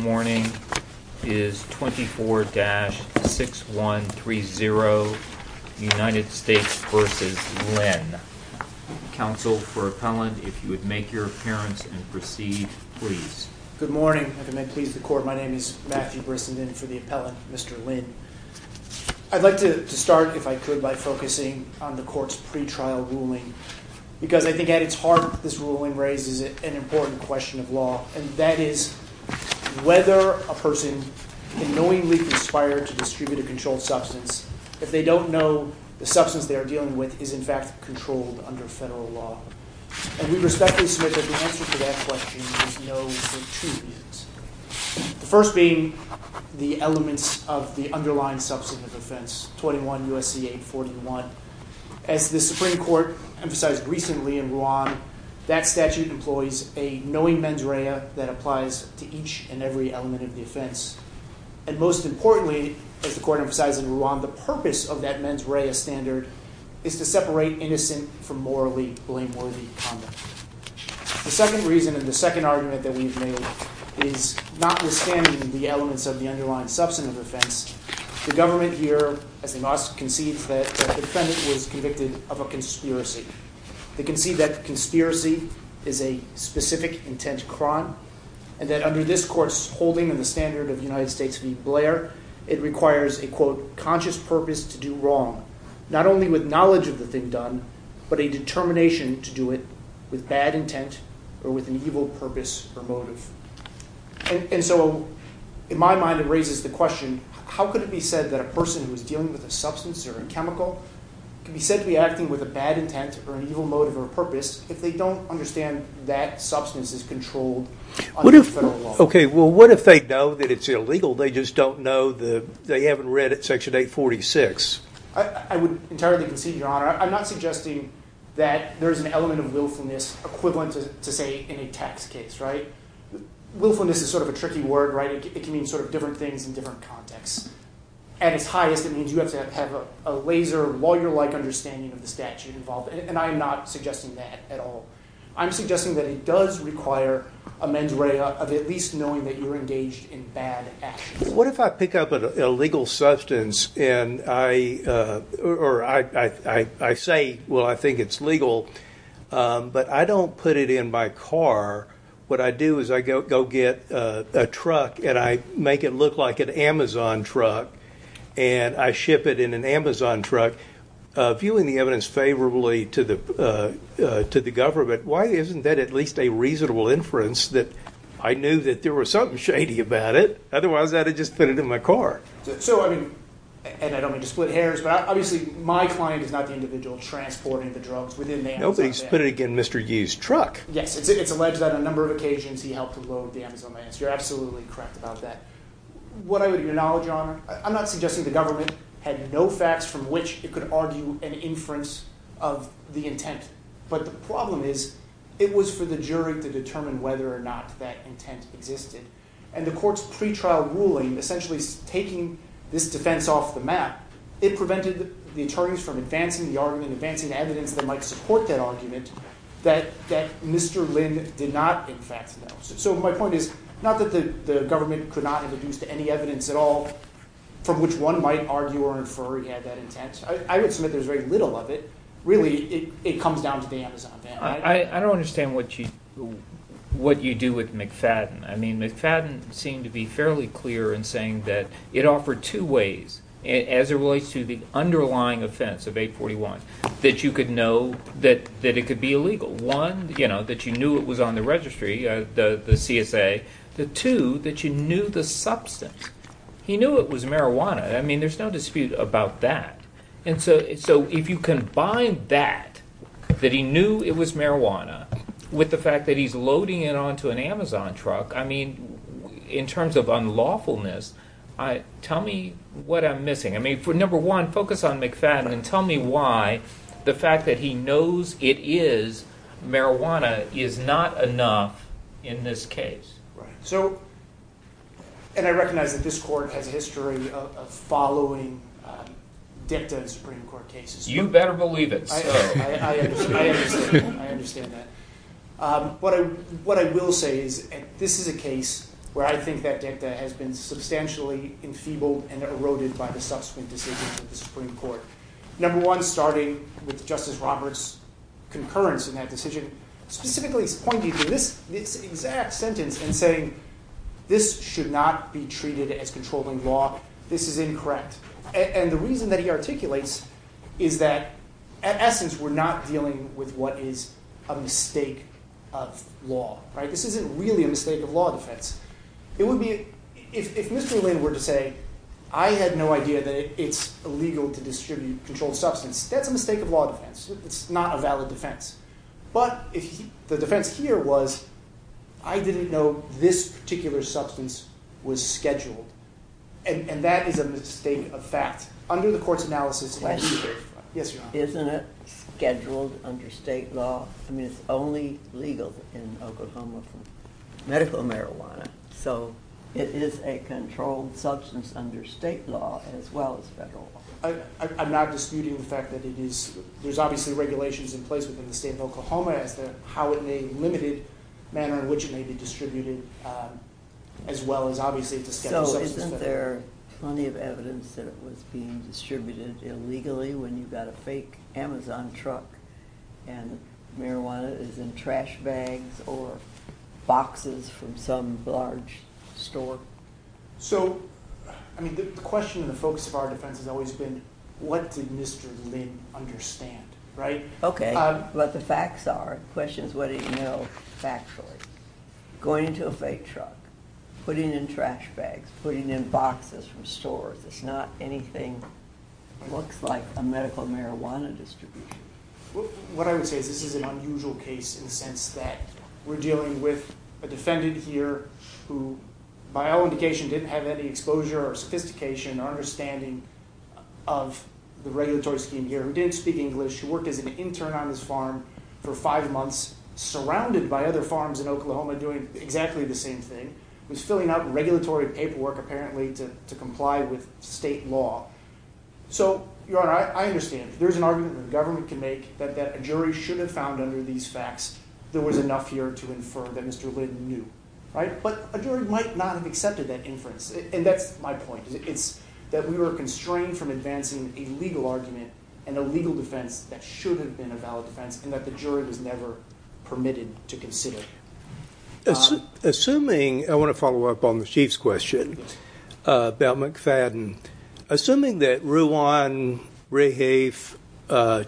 Counsel for Appellant, if you would make your appearance and proceed, please. Good morning. If it may please the Court, my name is Matthew Brissenden for the Appellant, Mr. Lin. I'd like to start, if I could, by focusing on the Court's pre-trial ruling because I think it's hard that this ruling raises an important question of law, and that is whether a person can knowingly conspire to distribute a controlled substance if they don't know the substance they are dealing with is, in fact, controlled under federal law. And we respectfully submit that the answer to that question is no, there are two views. The first being the elements of the underlying substantive offense, 21 U.S.C. 841. As the Supreme Court emphasized recently in Rwanda, that statute employs a knowing mens rea that applies to each and every element of the offense. And most importantly, as the Court emphasized in Rwanda, the purpose of that mens rea standard is to separate innocent from morally blameworthy conduct. The second reason and the second argument that we've made is, notwithstanding the elements of the underlying substantive offense, the government here, as they must, concedes that the defendant was convicted of a conspiracy. They concede that the conspiracy is a specific intent crime, and that under this Court's holding and the standard of the United States v. Blair, it requires a, quote, conscious purpose to do wrong, not only with knowledge of the thing done, but a determination to do it with bad intent or with an evil purpose or motive. And so, in my mind, it raises the question, how could it be said that a person who is dealing with a substance or a chemical can be said to be acting with a bad intent or an evil motive or a purpose if they don't understand that substance is controlled under federal law? Okay, well, what if they know that it's illegal, they just don't know, they haven't read it section 846? I would entirely concede, Your Honor, I'm not suggesting that there's an element of willfulness equivalent to, say, in a tax case, right? Willfulness is sort of a tricky word, right? It can mean sort of different things in different contexts. At its highest, it means you have to have a laser lawyer-like understanding of the statute involved, and I'm not suggesting that at all. I'm suggesting that it does require a mens rea of at least knowing that you're engaged in bad actions. What if I pick up an illegal substance, and I say, well, I think it's legal, but I don't put it in my car. What I do is I go get a truck, and I make it look like an Amazon truck, and I ship it in an Amazon truck, viewing the evidence favorably to the government. Why isn't that at least a reasonable inference that I knew that there was something shady about it? Otherwise, I'd have just put it in my car. So, I mean, and I don't mean to split hairs, but obviously, my client is not the individual transporting the drugs within the Amazon van. Nobody's put it in Mr. Yu's truck. Yes, it's alleged that on a number of occasions, he helped to load the Amazon van, so you're absolutely correct about that. What I would acknowledge, Your Honor, I'm not suggesting the government had no facts from which it could argue an inference of the intent, but the problem is it was for the jury to determine whether or not that intent existed. And the court's pretrial ruling essentially taking this defense off the map, it prevented the attorneys from advancing the argument, advancing the evidence that might support that argument, that Mr. Lin did not, in fact, know. So my point is, not that the government could not introduce any evidence at all from which one might argue or infer he had that intent. I would submit there's very little of it. Really, it comes down to the Amazon van. I don't understand what you do with McFadden. I mean, McFadden seemed to be fairly clear in saying that it offered two ways as it relates to the underlying offense of 841, that you could know that it could be illegal. One, you know, that you knew it was on the registry, the CSA. The two, that you knew the substance. He knew it was marijuana. I mean, there's no dispute about that. And so if you combine that, that he knew it was marijuana, with the fact that he's loading it onto an Amazon truck, I mean, in terms of unlawfulness, tell me what I'm missing. I mean, number one, focus on McFadden and tell me why the fact that he knows it is marijuana is not enough in this case. So, and I recognize that this court has a history of following dicta Supreme Court cases. You better believe it. I understand that. But what I will say is, this is a case where I think that dicta has been substantially enfeebled and eroded by the subsequent decisions of the Supreme Court. Number one, starting with Justice Roberts' concurrence in that decision, specifically pointing to this exact sentence and saying, this should not be treated as controlling law. This is incorrect. And the reason that he articulates is that, in essence, we're not dealing with what is a mistake of law. This isn't really a mistake of law defense. It would be, if Mr. Lin were to say, I had no idea that it's illegal to distribute controlled substance, that's a mistake of law defense. It's not a valid defense. But the defense here was, I didn't know this particular substance was scheduled. And that is a mistake of fact. Under the court's analysis, yes, Your Honor. Isn't it scheduled under state law? I mean, it's only legal in Oklahoma for medical marijuana. So, it is a controlled substance under state law as well as federal law. I'm not disputing the fact that it is, there's obviously regulations in place within the state of Oklahoma as to how it may be limited, the manner in which it may be distributed, as well as, obviously, to schedule substance. So, isn't there plenty of evidence that it was being distributed illegally when you've got a fake Amazon truck and marijuana is in trash bags or boxes from some large store? So, I mean, the question and the focus of our defense has always been, what did Mr. Lin understand, right? Okay, but the facts are. The question is, what did he know factually? Going into a fake truck, putting in trash bags, putting in boxes from stores. It's not anything that looks like a medical marijuana distribution. What I would say is this is an unusual case in the sense that we're dealing with a defendant here who, by all indications, didn't have any exposure or sophistication or understanding of the regulatory scheme here, who didn't speak English, who worked as an intern on this farm for five months, surrounded by other farms in Oklahoma doing exactly the same thing, was filling out regulatory paperwork, apparently, to comply with state law. So, Your Honor, I understand. There's an argument that the government can make that a jury should have found under these facts there was enough here to infer that Mr. Lin knew, right? But a jury might not have accepted that inference, and that's my point. It's that we were constrained from advancing a legal argument and a legal defense that should have been a valid defense and that the jury was never permitted to consider. Assuming, I want to follow up on the Chief's question about McFadden. Assuming that Ruan, Rahafe,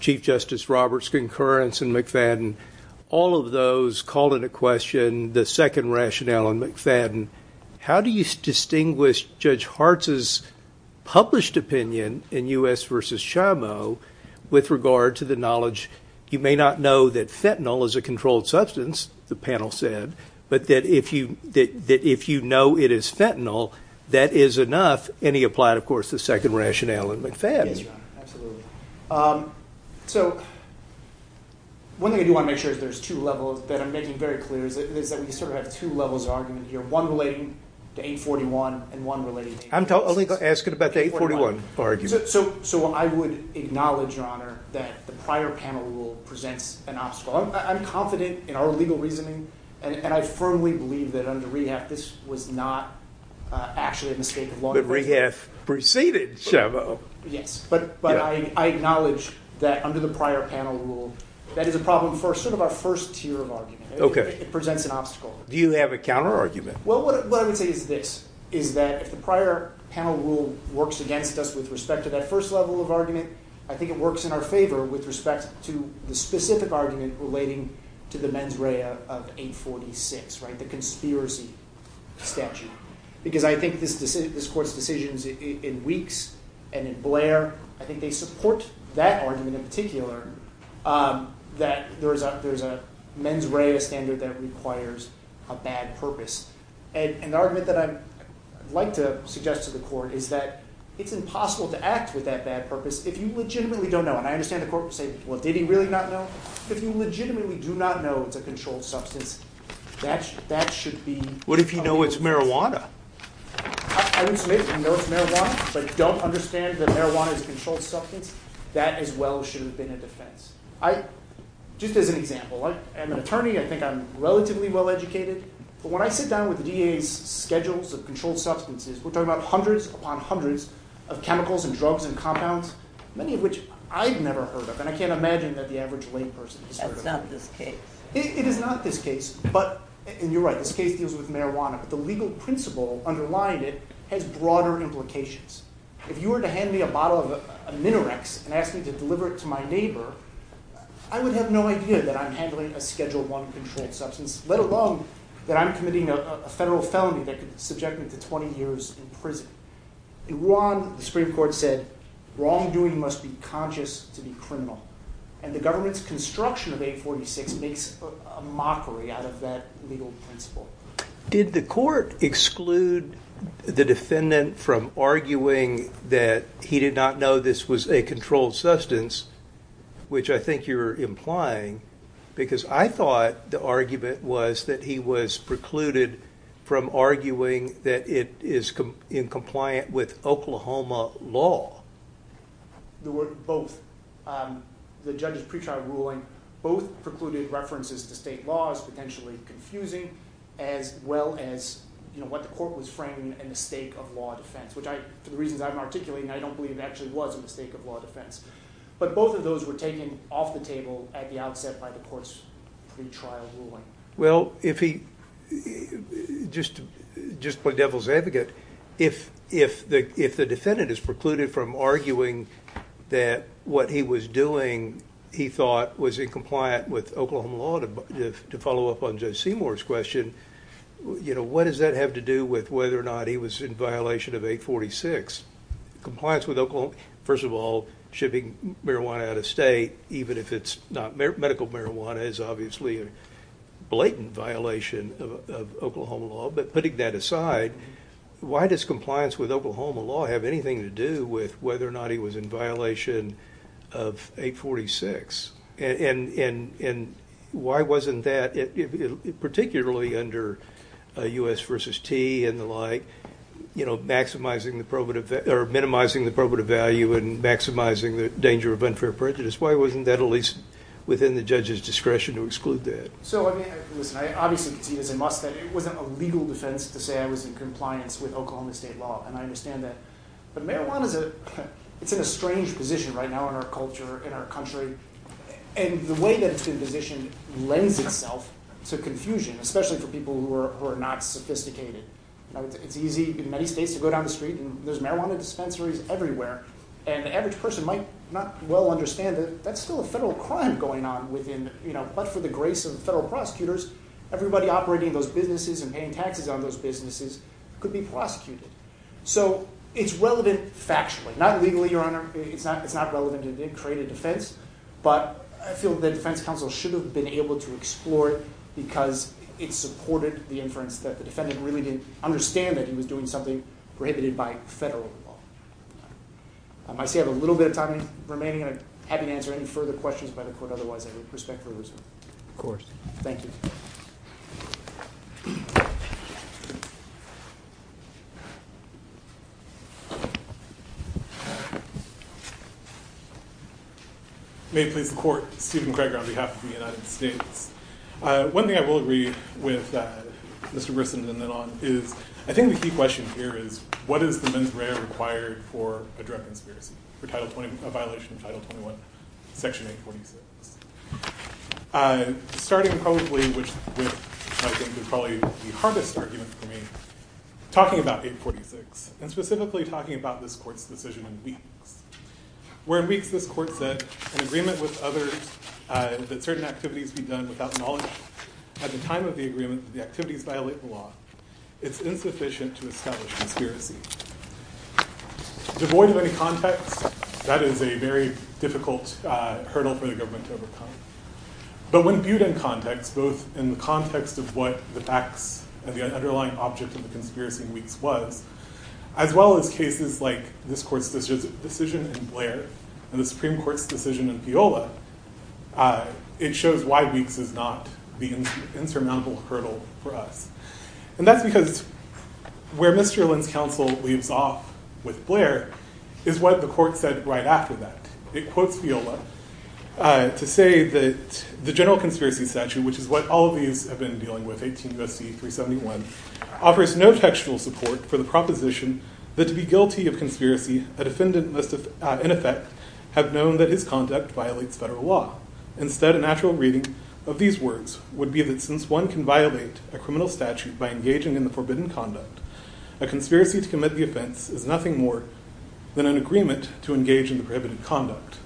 Chief Justice Roberts' concurrence in McFadden, all of those called into question the second rationale in McFadden, how do you distinguish Judge Hartz's published opinion in U.S. v. Chamo with regard to the knowledge, you may not know that fentanyl is a controlled substance, the panel said, but that if you know it is fentanyl, that is enough, and he applied, of course, the second rationale in McFadden. Yes, Your Honor. Absolutely. So, one thing I do want to make sure is there's two levels that I'm making very clear is that we sort of have two levels of argument here, one relating to 841 and one relating to 845. I'm only asking about the 841 argument. So, I would acknowledge, Your Honor, that the prior panel rule presents an obstacle. I'm confident in our legal reasoning, and I firmly believe that under Rahafe, this was not actually a mistake of law enforcement. But Rahafe preceded Chamo. Yes, but I acknowledge that under the prior panel rule, that is a problem for sort of our first tier of argument. Okay. It presents an obstacle. Do you have a counterargument? Well, what I would say is this, is that if the prior panel rule works against us with respect to that first level of argument, I think it works in our favor with respect to the specific argument relating to the mens rea of 846, right, the conspiracy statute. Because I think this court's decisions in Weeks and in Blair, I think they support that argument in particular, that there's a mens rea standard that requires a bad purpose. And the argument that I'd like to suggest to the court is that it's impossible to act with that bad purpose if you legitimately don't know. And I understand the court would say, well, did he really not know? If you legitimately do not know it's a controlled substance, that should be... What if you know it's marijuana? I would submit that you know it's marijuana, but don't understand that marijuana is a controlled substance. That, as well, should have been a defense. Just as an example, I'm an attorney. I think I'm relatively well educated. But when I sit down with the DA's schedules of controlled substances, we're talking about hundreds upon hundreds of chemicals and drugs and compounds, many of which I've never heard of, and I can't imagine that the average layperson has heard of. That's not this case. It is not this case. And you're right, this case deals with marijuana. But the legal principle underlying it has broader implications. If you were to hand me a bottle of Minarex and ask me to deliver it to my neighbor, I would have no idea that I'm handling a Schedule I controlled substance, let alone that I'm committing a federal felony that could subject me to 20 years in prison. In Wuhan, the Supreme Court said, wrongdoing must be conscious to be criminal. And the government's construction of 846 makes a mockery out of that legal principle. Did the court exclude the defendant from arguing that he did not know this was a controlled substance, which I think you're implying? Because I thought the argument was that he was precluded from arguing that it is in compliant with Oklahoma law. There were both. The judge's pretrial ruling both precluded references to state laws, potentially confusing, as well as what the court was framing as a mistake of law defense. For the reasons I'm articulating, I don't believe it actually was a mistake of law defense. But both of those were taken off the table at the outset by the court's pretrial ruling. Well, just to play devil's advocate, if the defendant is precluded from arguing that what he was doing, he thought, was in compliant with Oklahoma law, to follow up on Judge Seymour's question, what does that have to do with whether or not he was in violation of 846? Compliance with Oklahoma, first of all, shipping marijuana out of state, even if it's not medical marijuana, is obviously a blatant violation of Oklahoma law. But putting that aside, why does compliance with Oklahoma law have anything to do with whether or not he was in violation of 846? And why wasn't that, particularly under U.S. v. T. and the like, minimizing the probative value and maximizing the danger of unfair prejudice, why wasn't that at least within the judge's discretion to exclude that? So, I mean, listen, I obviously see it as a must that it wasn't a legal defense to say I was in compliance with Oklahoma state law, and I understand that. But marijuana, it's in a strange position right now in our culture, in our country, and the way that it's been positioned lends itself to confusion, especially for people who are not sophisticated. It's easy in many states to go down the street, and there's marijuana dispensaries everywhere, and the average person might not well understand that that's still a federal crime going on within, but for the grace of federal prosecutors, everybody operating those businesses and paying taxes on those businesses could be prosecuted. So, it's relevant factually, not legally, Your Honor, it's not relevant to create a defense, but I feel that the defense counsel should have been able to explore it because it supported the inference that the defendant really didn't understand that he was doing something prohibited by federal law. I see I have a little bit of time remaining, and I'm happy to answer any further questions by the court, otherwise I would respect the result. Of course. Thank you. May it please the court, Stephen Craig on behalf of the United States. One thing I will read with Mr. Grissom and then on is, I think the key question here is, what is the mens rea required for a drug conspiracy, for a violation of Title 21, Section 846? Starting probably with, I think probably the hardest argument for me, talking about 846 and specifically talking about this court's decision in weeks. Where in weeks this court said, an agreement with others that certain activities be done without knowledge, at the time of the agreement, the activities violate the law. It's insufficient to establish conspiracy. Devoid of any context, that is a very difficult hurdle for the government to overcome. But when viewed in context, both in the context of what the facts and the underlying object of the conspiracy in weeks was, as well as cases like this court's decision in Blair, and the Supreme Court's decision in Peola, it shows why weeks is not the insurmountable hurdle for us. And that's because where Mr. Lynn's counsel leaves off with Blair is what the court said right after that. It quotes Peola to say that the general conspiracy statute, which is what all of these have been dealing with, 18 U.S.C. 371, offers no textual support for the proposition that to be guilty of conspiracy, a defendant must in effect have known that his conduct violates federal law. Instead, a natural reading of these words would be that since one can violate a criminal statute by engaging in the forbidden conduct, a conspiracy to commit the offense is nothing more than an agreement to engage in the prohibited conduct.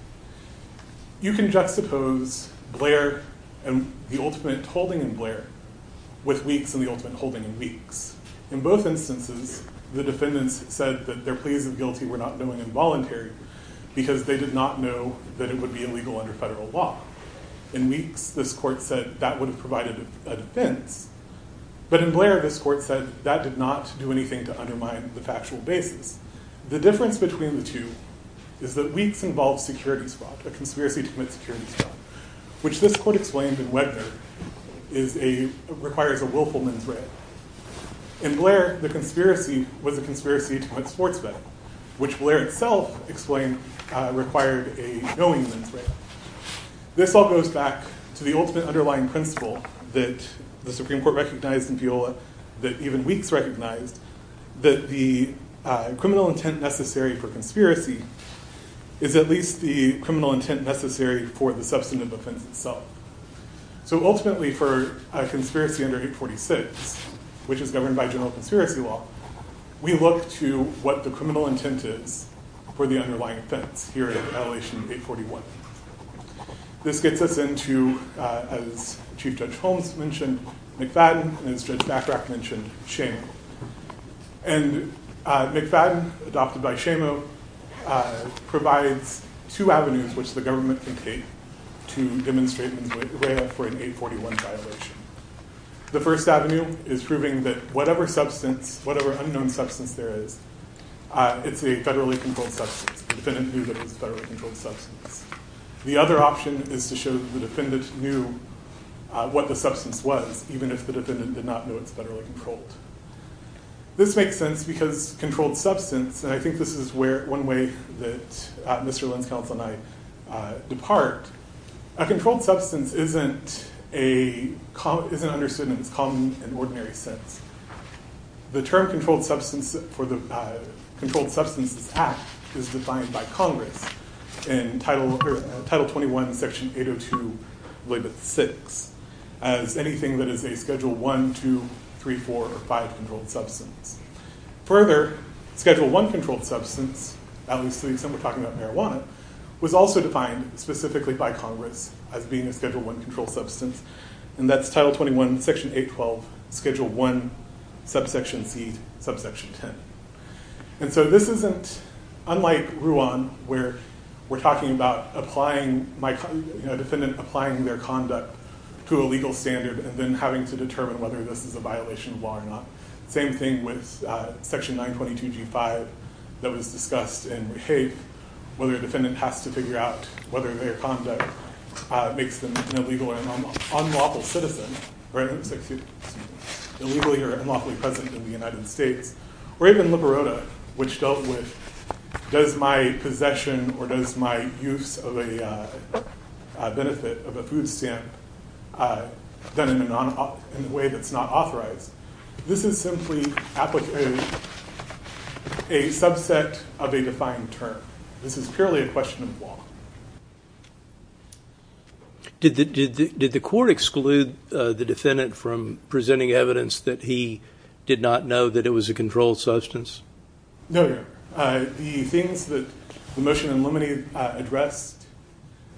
You can juxtapose Blair and the ultimate holding in Blair with weeks and the ultimate holding in weeks. In both instances, the defendants said that their pleas of guilty were not knowing involuntary because they did not know that it would be illegal under federal law. In weeks, this court said that would have provided a defense. But in Blair, this court said that did not do anything to undermine the factual basis. The difference between the two is that weeks involves securities fraud, a conspiracy to commit securities fraud, which this court explained in Wegner requires a willful mithread. In Blair, the conspiracy was a conspiracy to commit sports betting, which Blair itself explained required a knowing mithread. This all goes back to the ultimate underlying principle that the Supreme Court recognized in Viola, that even weeks recognized, that the criminal intent necessary for conspiracy is at least the criminal intent necessary for the substantive offense itself. Ultimately, for a conspiracy under 846, which is governed by general conspiracy law, we look to what the criminal intent is for the underlying offense here in Attalation 841. This gets us into, as Chief Judge Holmes mentioned, McFadden, and as Judge MacRack mentioned, McFadden, adopted by Shamo, provides two avenues which the government can take to demonstrate an 841 violation. The first avenue is proving that whatever substance, whatever unknown substance there is, it's a federally controlled substance. The defendant knew that it was a federally controlled substance. The other option is to show that the defendant knew what the substance was, even if the defendant did not know it's federally controlled. This makes sense because controlled substance, and I think this is where, one way that Mr. McFadden's point is, controlled substance isn't understood in its common and ordinary sense. The term controlled substance for the Controlled Substances Act is defined by Congress in Title 21, Section 802, Label 6, as anything that is a Schedule 1, 2, 3, 4, or 5 controlled substance. Further, Schedule 1 controlled substance, at least to the extent we're talking about was also defined specifically by Congress as being a Schedule 1 controlled substance, and that's Title 21, Section 812, Schedule 1, Subsection C, Subsection 10. This isn't, unlike Ruan, where we're talking about a defendant applying their conduct to a legal standard and then having to determine whether this is a violation of law or not. Same thing with Section 922, G5, that was discussed in Rehabe, where the defendant has to figure out whether their conduct makes them an illegal or unlawful citizen, right? Illegally or unlawfully present in the United States. Or even Liberota, which dealt with, does my possession or does my use of a benefit of a food stamp done in a way that's not authorized? This is simply a subset of a defined term. This is purely a question of law. Did the court exclude the defendant from presenting evidence that he did not know that it was a controlled substance? No, no. The things that the motion in limine addressed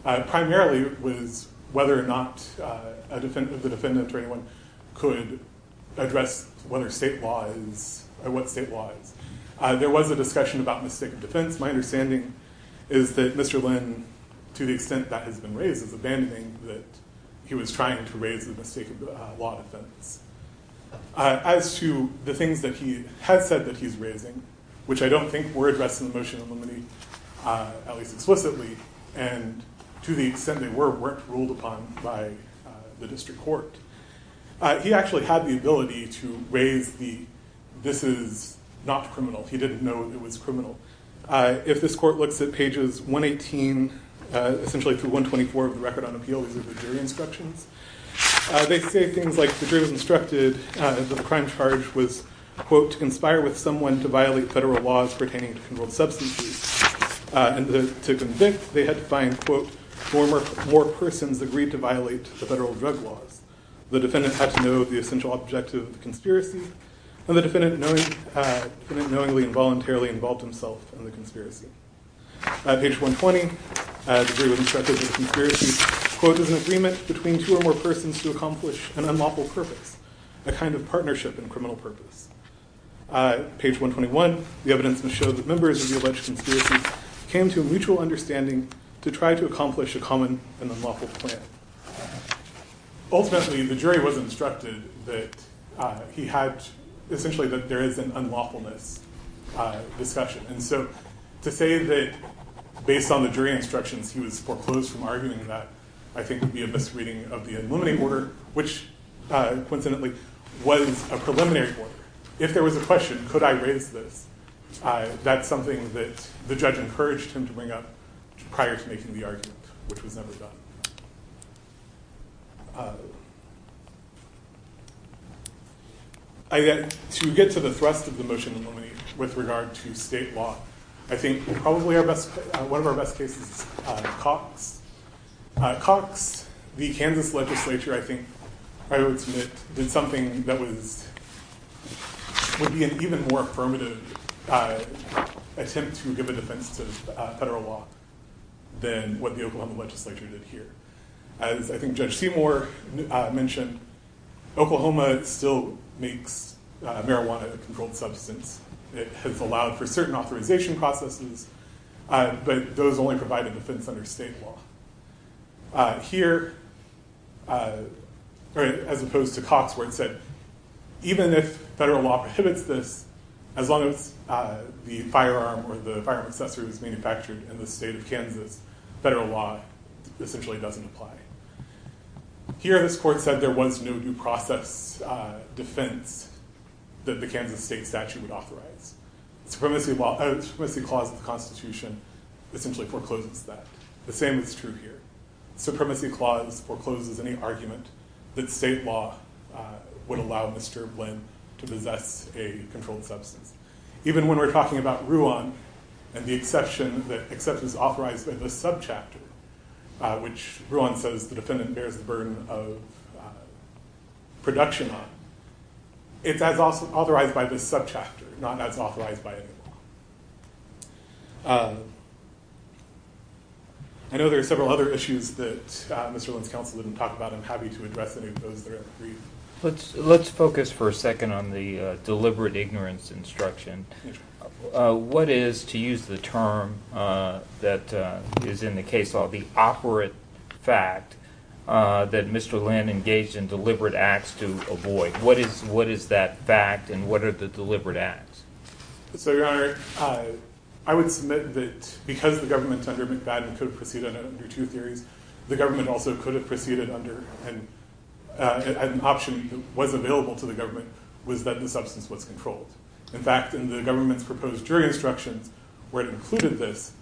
primarily was whether or not the defendant or anyone could address what state law is. There was a discussion about mistake of defense. My understanding is that Mr. Lynn, to the extent that has been raised, is abandoning that he was trying to raise the mistake of law defense. As to the things that he has said that he's raising, which I don't think were addressed in the motion in limine, at least explicitly, and to the extent they were, weren't ruled upon by the district court. He actually had the ability to raise the, this is not criminal. He didn't know it was criminal. If this court looks at pages 118, essentially through 124 of the record on appeal, these are the jury instructions. They say things like, the jury was instructed, the crime charge was, quote, to conspire with someone to violate federal laws pertaining to controlled substances. And to convict, they had to find, quote, four more persons agreed to violate the federal drug laws. The defendant had to know the essential objective of the conspiracy, and the defendant knowingly and voluntarily involved himself in the conspiracy. Page 120, the jury was instructed that the conspiracy, quote, was an agreement between two or more persons to accomplish an unlawful purpose, a kind of partnership in criminal purpose. Page 121, the evidence showed that members of the alleged conspiracy came to a mutual understanding to try to accomplish a common and unlawful plan. Ultimately, the jury was instructed that he had, essentially that there is an unlawfulness discussion. And so, to say that based on the jury instructions, he was foreclosed from arguing that, I think would be a misreading of the Illuminate Order, which, coincidentally, was a preliminary order. If there was a question, could I raise this, that's something that the judge encouraged him to bring up prior to making the argument, which was never done. To get to the thrust of the motion in Illuminate with regard to state law, I think probably one of our best cases is Cox. Cox, the Kansas legislature, I think, I would submit, did something that would be an even more affirmative attempt to give a defense to federal law than what the Oklahoma legislature did here. As I think Judge Seymour mentioned, Oklahoma still makes marijuana a controlled substance. It has allowed for certain authorization processes, but those only provide a defense under state law. Here, as opposed to Cox, where it said, even if federal law prohibits this, as long as the firearm or the firearm accessory was manufactured in the state of Kansas, federal law essentially doesn't apply. Here, this court said there was no due process defense that the Kansas state statute would authorize. The Supremacy Clause of the Constitution essentially forecloses that. The same is true here. The Supremacy Clause forecloses any argument that state law would allow Mr. Blinn to possess a controlled substance. Even when we're talking about Ruan, and the exception that is authorized by this subchapter, which Ruan says the defendant bears the burden of production on, it's as authorized by this subchapter, not as authorized by any law. I know there are several other issues that Mr. Blinn's counsel didn't talk about. I'm happy to address any of those that are in the brief. Let's focus for a second on the deliberate ignorance instruction. What is, to use the term that is in the case law, the operant fact that Mr. Blinn engaged in deliberate acts to avoid? What is that fact, and what are the deliberate acts? Your Honor, I would submit that because the government under McFadden could have proceeded under two theories, the government also could have proceeded under an option that was available to the government, was that the substance was controlled. In fact, in the government's proposed jury instructions, where it included this,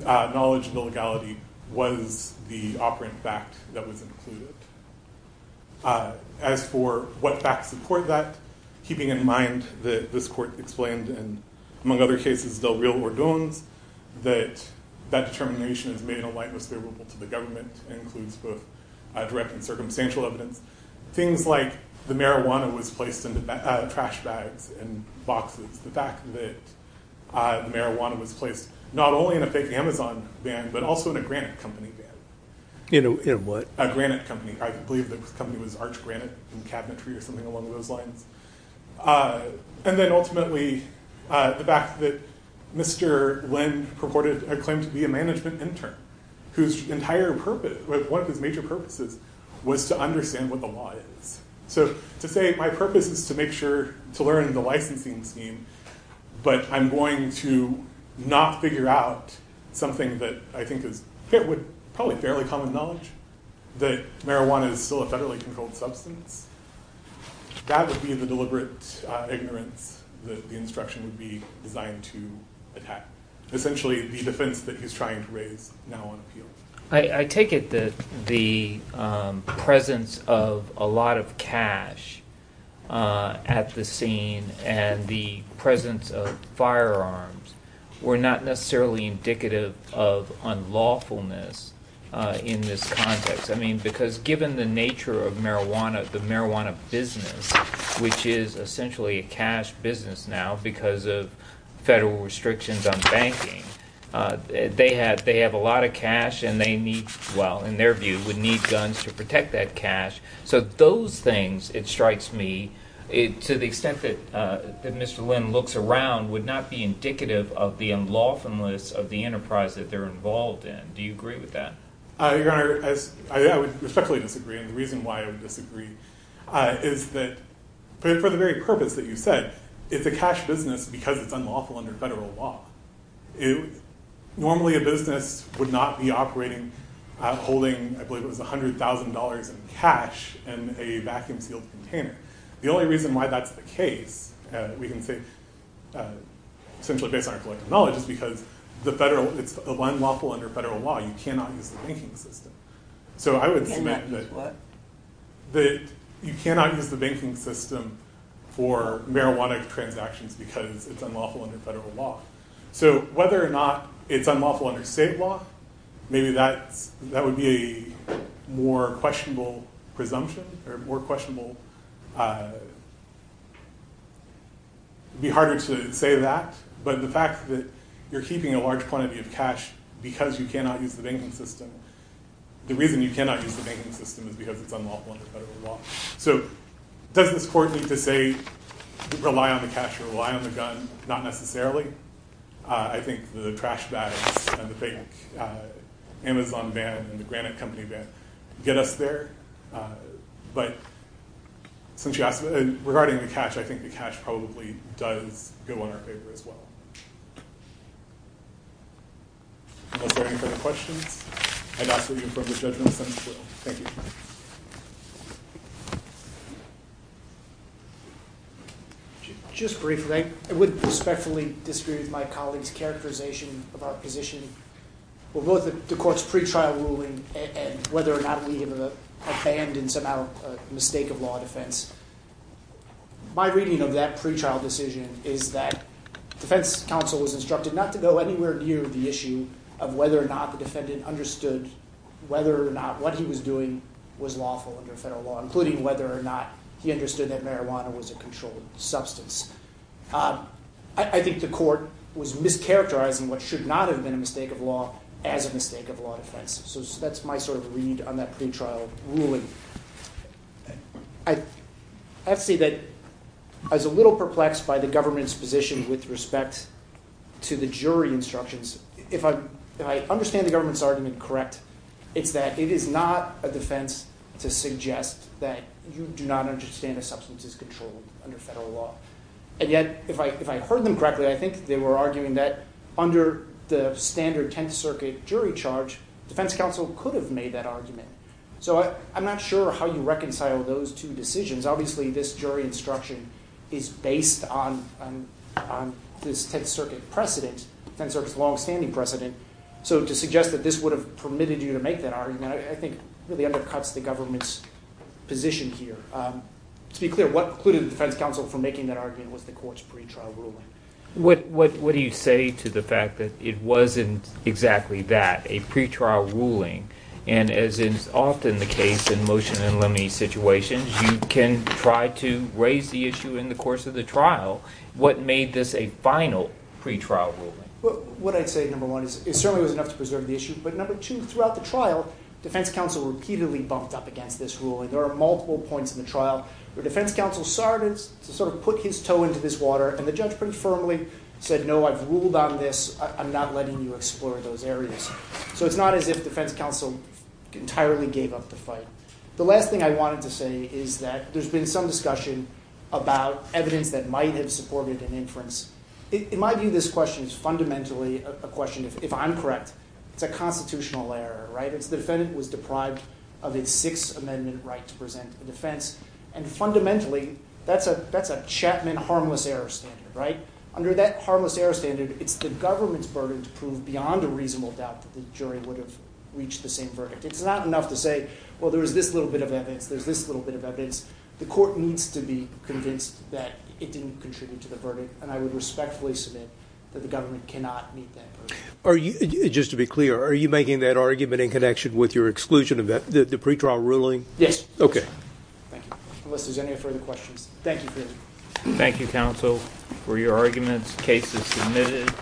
knowledge and illegality was the operant fact that was included. As for what facts support that, keeping in mind that this court explained in, among other cases, Del Rio or Doones, that that determination is made in a light that's favorable to the government and includes both direct and circumstantial evidence. Things like the marijuana was placed in the trash bags and boxes, the fact that the marijuana was placed not only in a fake Amazon van, but also in a Granite Company van. In a what? A Granite Company. I believe the company was Arch Granite and Cabinetry or something along those lines. And then ultimately, the fact that Mr. Blinn purported a claim to be a management intern, whose entire purpose, one of his major purposes, was to understand what the law is. So, to say my purpose is to make sure, to learn the licensing scheme, but I'm going to not figure out something that I think is probably fairly common knowledge, that marijuana is still a federally controlled substance. That would be the deliberate ignorance that the instruction would be designed to attack. Essentially, the defense that he's trying to raise now on appeal. I take it that the presence of a lot of cash at the scene and the presence of firearms were not necessarily indicative of unlawfulness in this context. I mean, because given the nature of marijuana, the marijuana business, which is essentially a cash business now because of federal restrictions on banking, they have a lot of cash and they need, well, in their view, would need guns to protect that cash. So, those things, it strikes me, to the extent that Mr. Blinn looks around, would not be indicative of the unlawfulness of the enterprise that they're involved in. Do you agree with that? Your Honor, I respectfully disagree. The reason why I would disagree is that, for the very purpose that you said, it's a cash business because it's unlawful under federal law. Normally, a business would not be operating, holding, I believe it was $100,000 in cash in a vacuum-sealed container. The only reason why that's the case, we can say, essentially based on our collective knowledge, is because it's unlawful under federal law. You cannot use the banking system. So, I would submit that you cannot use the banking system for marijuana transactions because it's unlawful under federal law. So, whether or not it's unlawful under state law, maybe that would be a more questionable presumption, or more questionable, it would be harder to say that, but the fact that you're keeping a large quantity of cash because you cannot use the banking system, the reason you cannot use the banking system is because it's unlawful under federal law. So, does this court need to say, rely on the cash or rely on the gun? Not necessarily. I think the trash bags and the fake Amazon van and the Granite Company van get us there. But, since you asked, regarding the cash, I think the cash probably does go in our favor as well. Are there any further questions? I'd ask that you approve the judgment sentence bill. Thank you. Just briefly, I would respectfully disagree with my colleague's characterization of our position. With both the court's pretrial ruling and whether or not we have abandoned somehow a mistake of law and defense, my reading of that pretrial decision is that defense counsel was instructed not to go anywhere near the issue of whether or not the defendant understood whether or not what he was doing was lawful under federal law, including whether or not he understood that marijuana was a controlled substance. I think the court was mischaracterizing what should not have been a mistake of law as a mistake of law defense. So, that's my sort of read on that pretrial ruling. I have to say that I was a little perplexed by the government's position with respect to the jury instructions. If I understand the government's argument correct, it's that it is not a defense to suggest that you do not understand a substance is controlled under federal law. And yet, if I heard them correctly, I think they were arguing that under the standard Tenth Circuit jury charge, defense counsel could have made that argument. So, I'm not sure how you reconcile those two decisions. Obviously, this jury instruction is based on this Tenth Circuit precedent. It's a long-standing precedent. So, to suggest that this would have permitted you to make that argument, I think really undercuts the government's position here. To be clear, what precluded the defense counsel from making that argument was the court's pretrial ruling. What do you say to the fact that it wasn't exactly that, a pretrial ruling? And as is often the case in motion and limine situations, you can try to raise the issue in the course of the trial. What made this a final pretrial ruling? What I'd say, number one, is it certainly was enough to preserve the issue. But number two, throughout the trial, defense counsel repeatedly bumped up against this ruling. There are multiple points in the trial where defense counsel sort of put his toe into this water and the judge pretty firmly said, no, I've ruled on this. I'm not letting you explore those areas. So, it's not as if defense counsel entirely gave up the fight. The last thing I wanted to say is that there's been some discussion about evidence that might have supported an inference. In my view, this question is fundamentally a question, if I'm correct, it's a constitutional error. The defendant was deprived of its Sixth Amendment right to present a defense. And fundamentally, that's a Chapman harmless error standard. Under that harmless error standard, it's the government's burden to prove beyond a reasonable doubt that the jury would have reached the same verdict. It's not enough to say, well, there's this little bit of evidence, there's this little bit of evidence. The court needs to be convinced that it didn't contribute to the verdict. And I would respectfully submit that the government cannot meet that burden. Are you, just to be clear, are you making that argument in connection with your exclusion of the pretrial ruling? Yes. Thank you. Unless there's any further questions. Thank you. Thank you, counsel, for your arguments, cases submitted.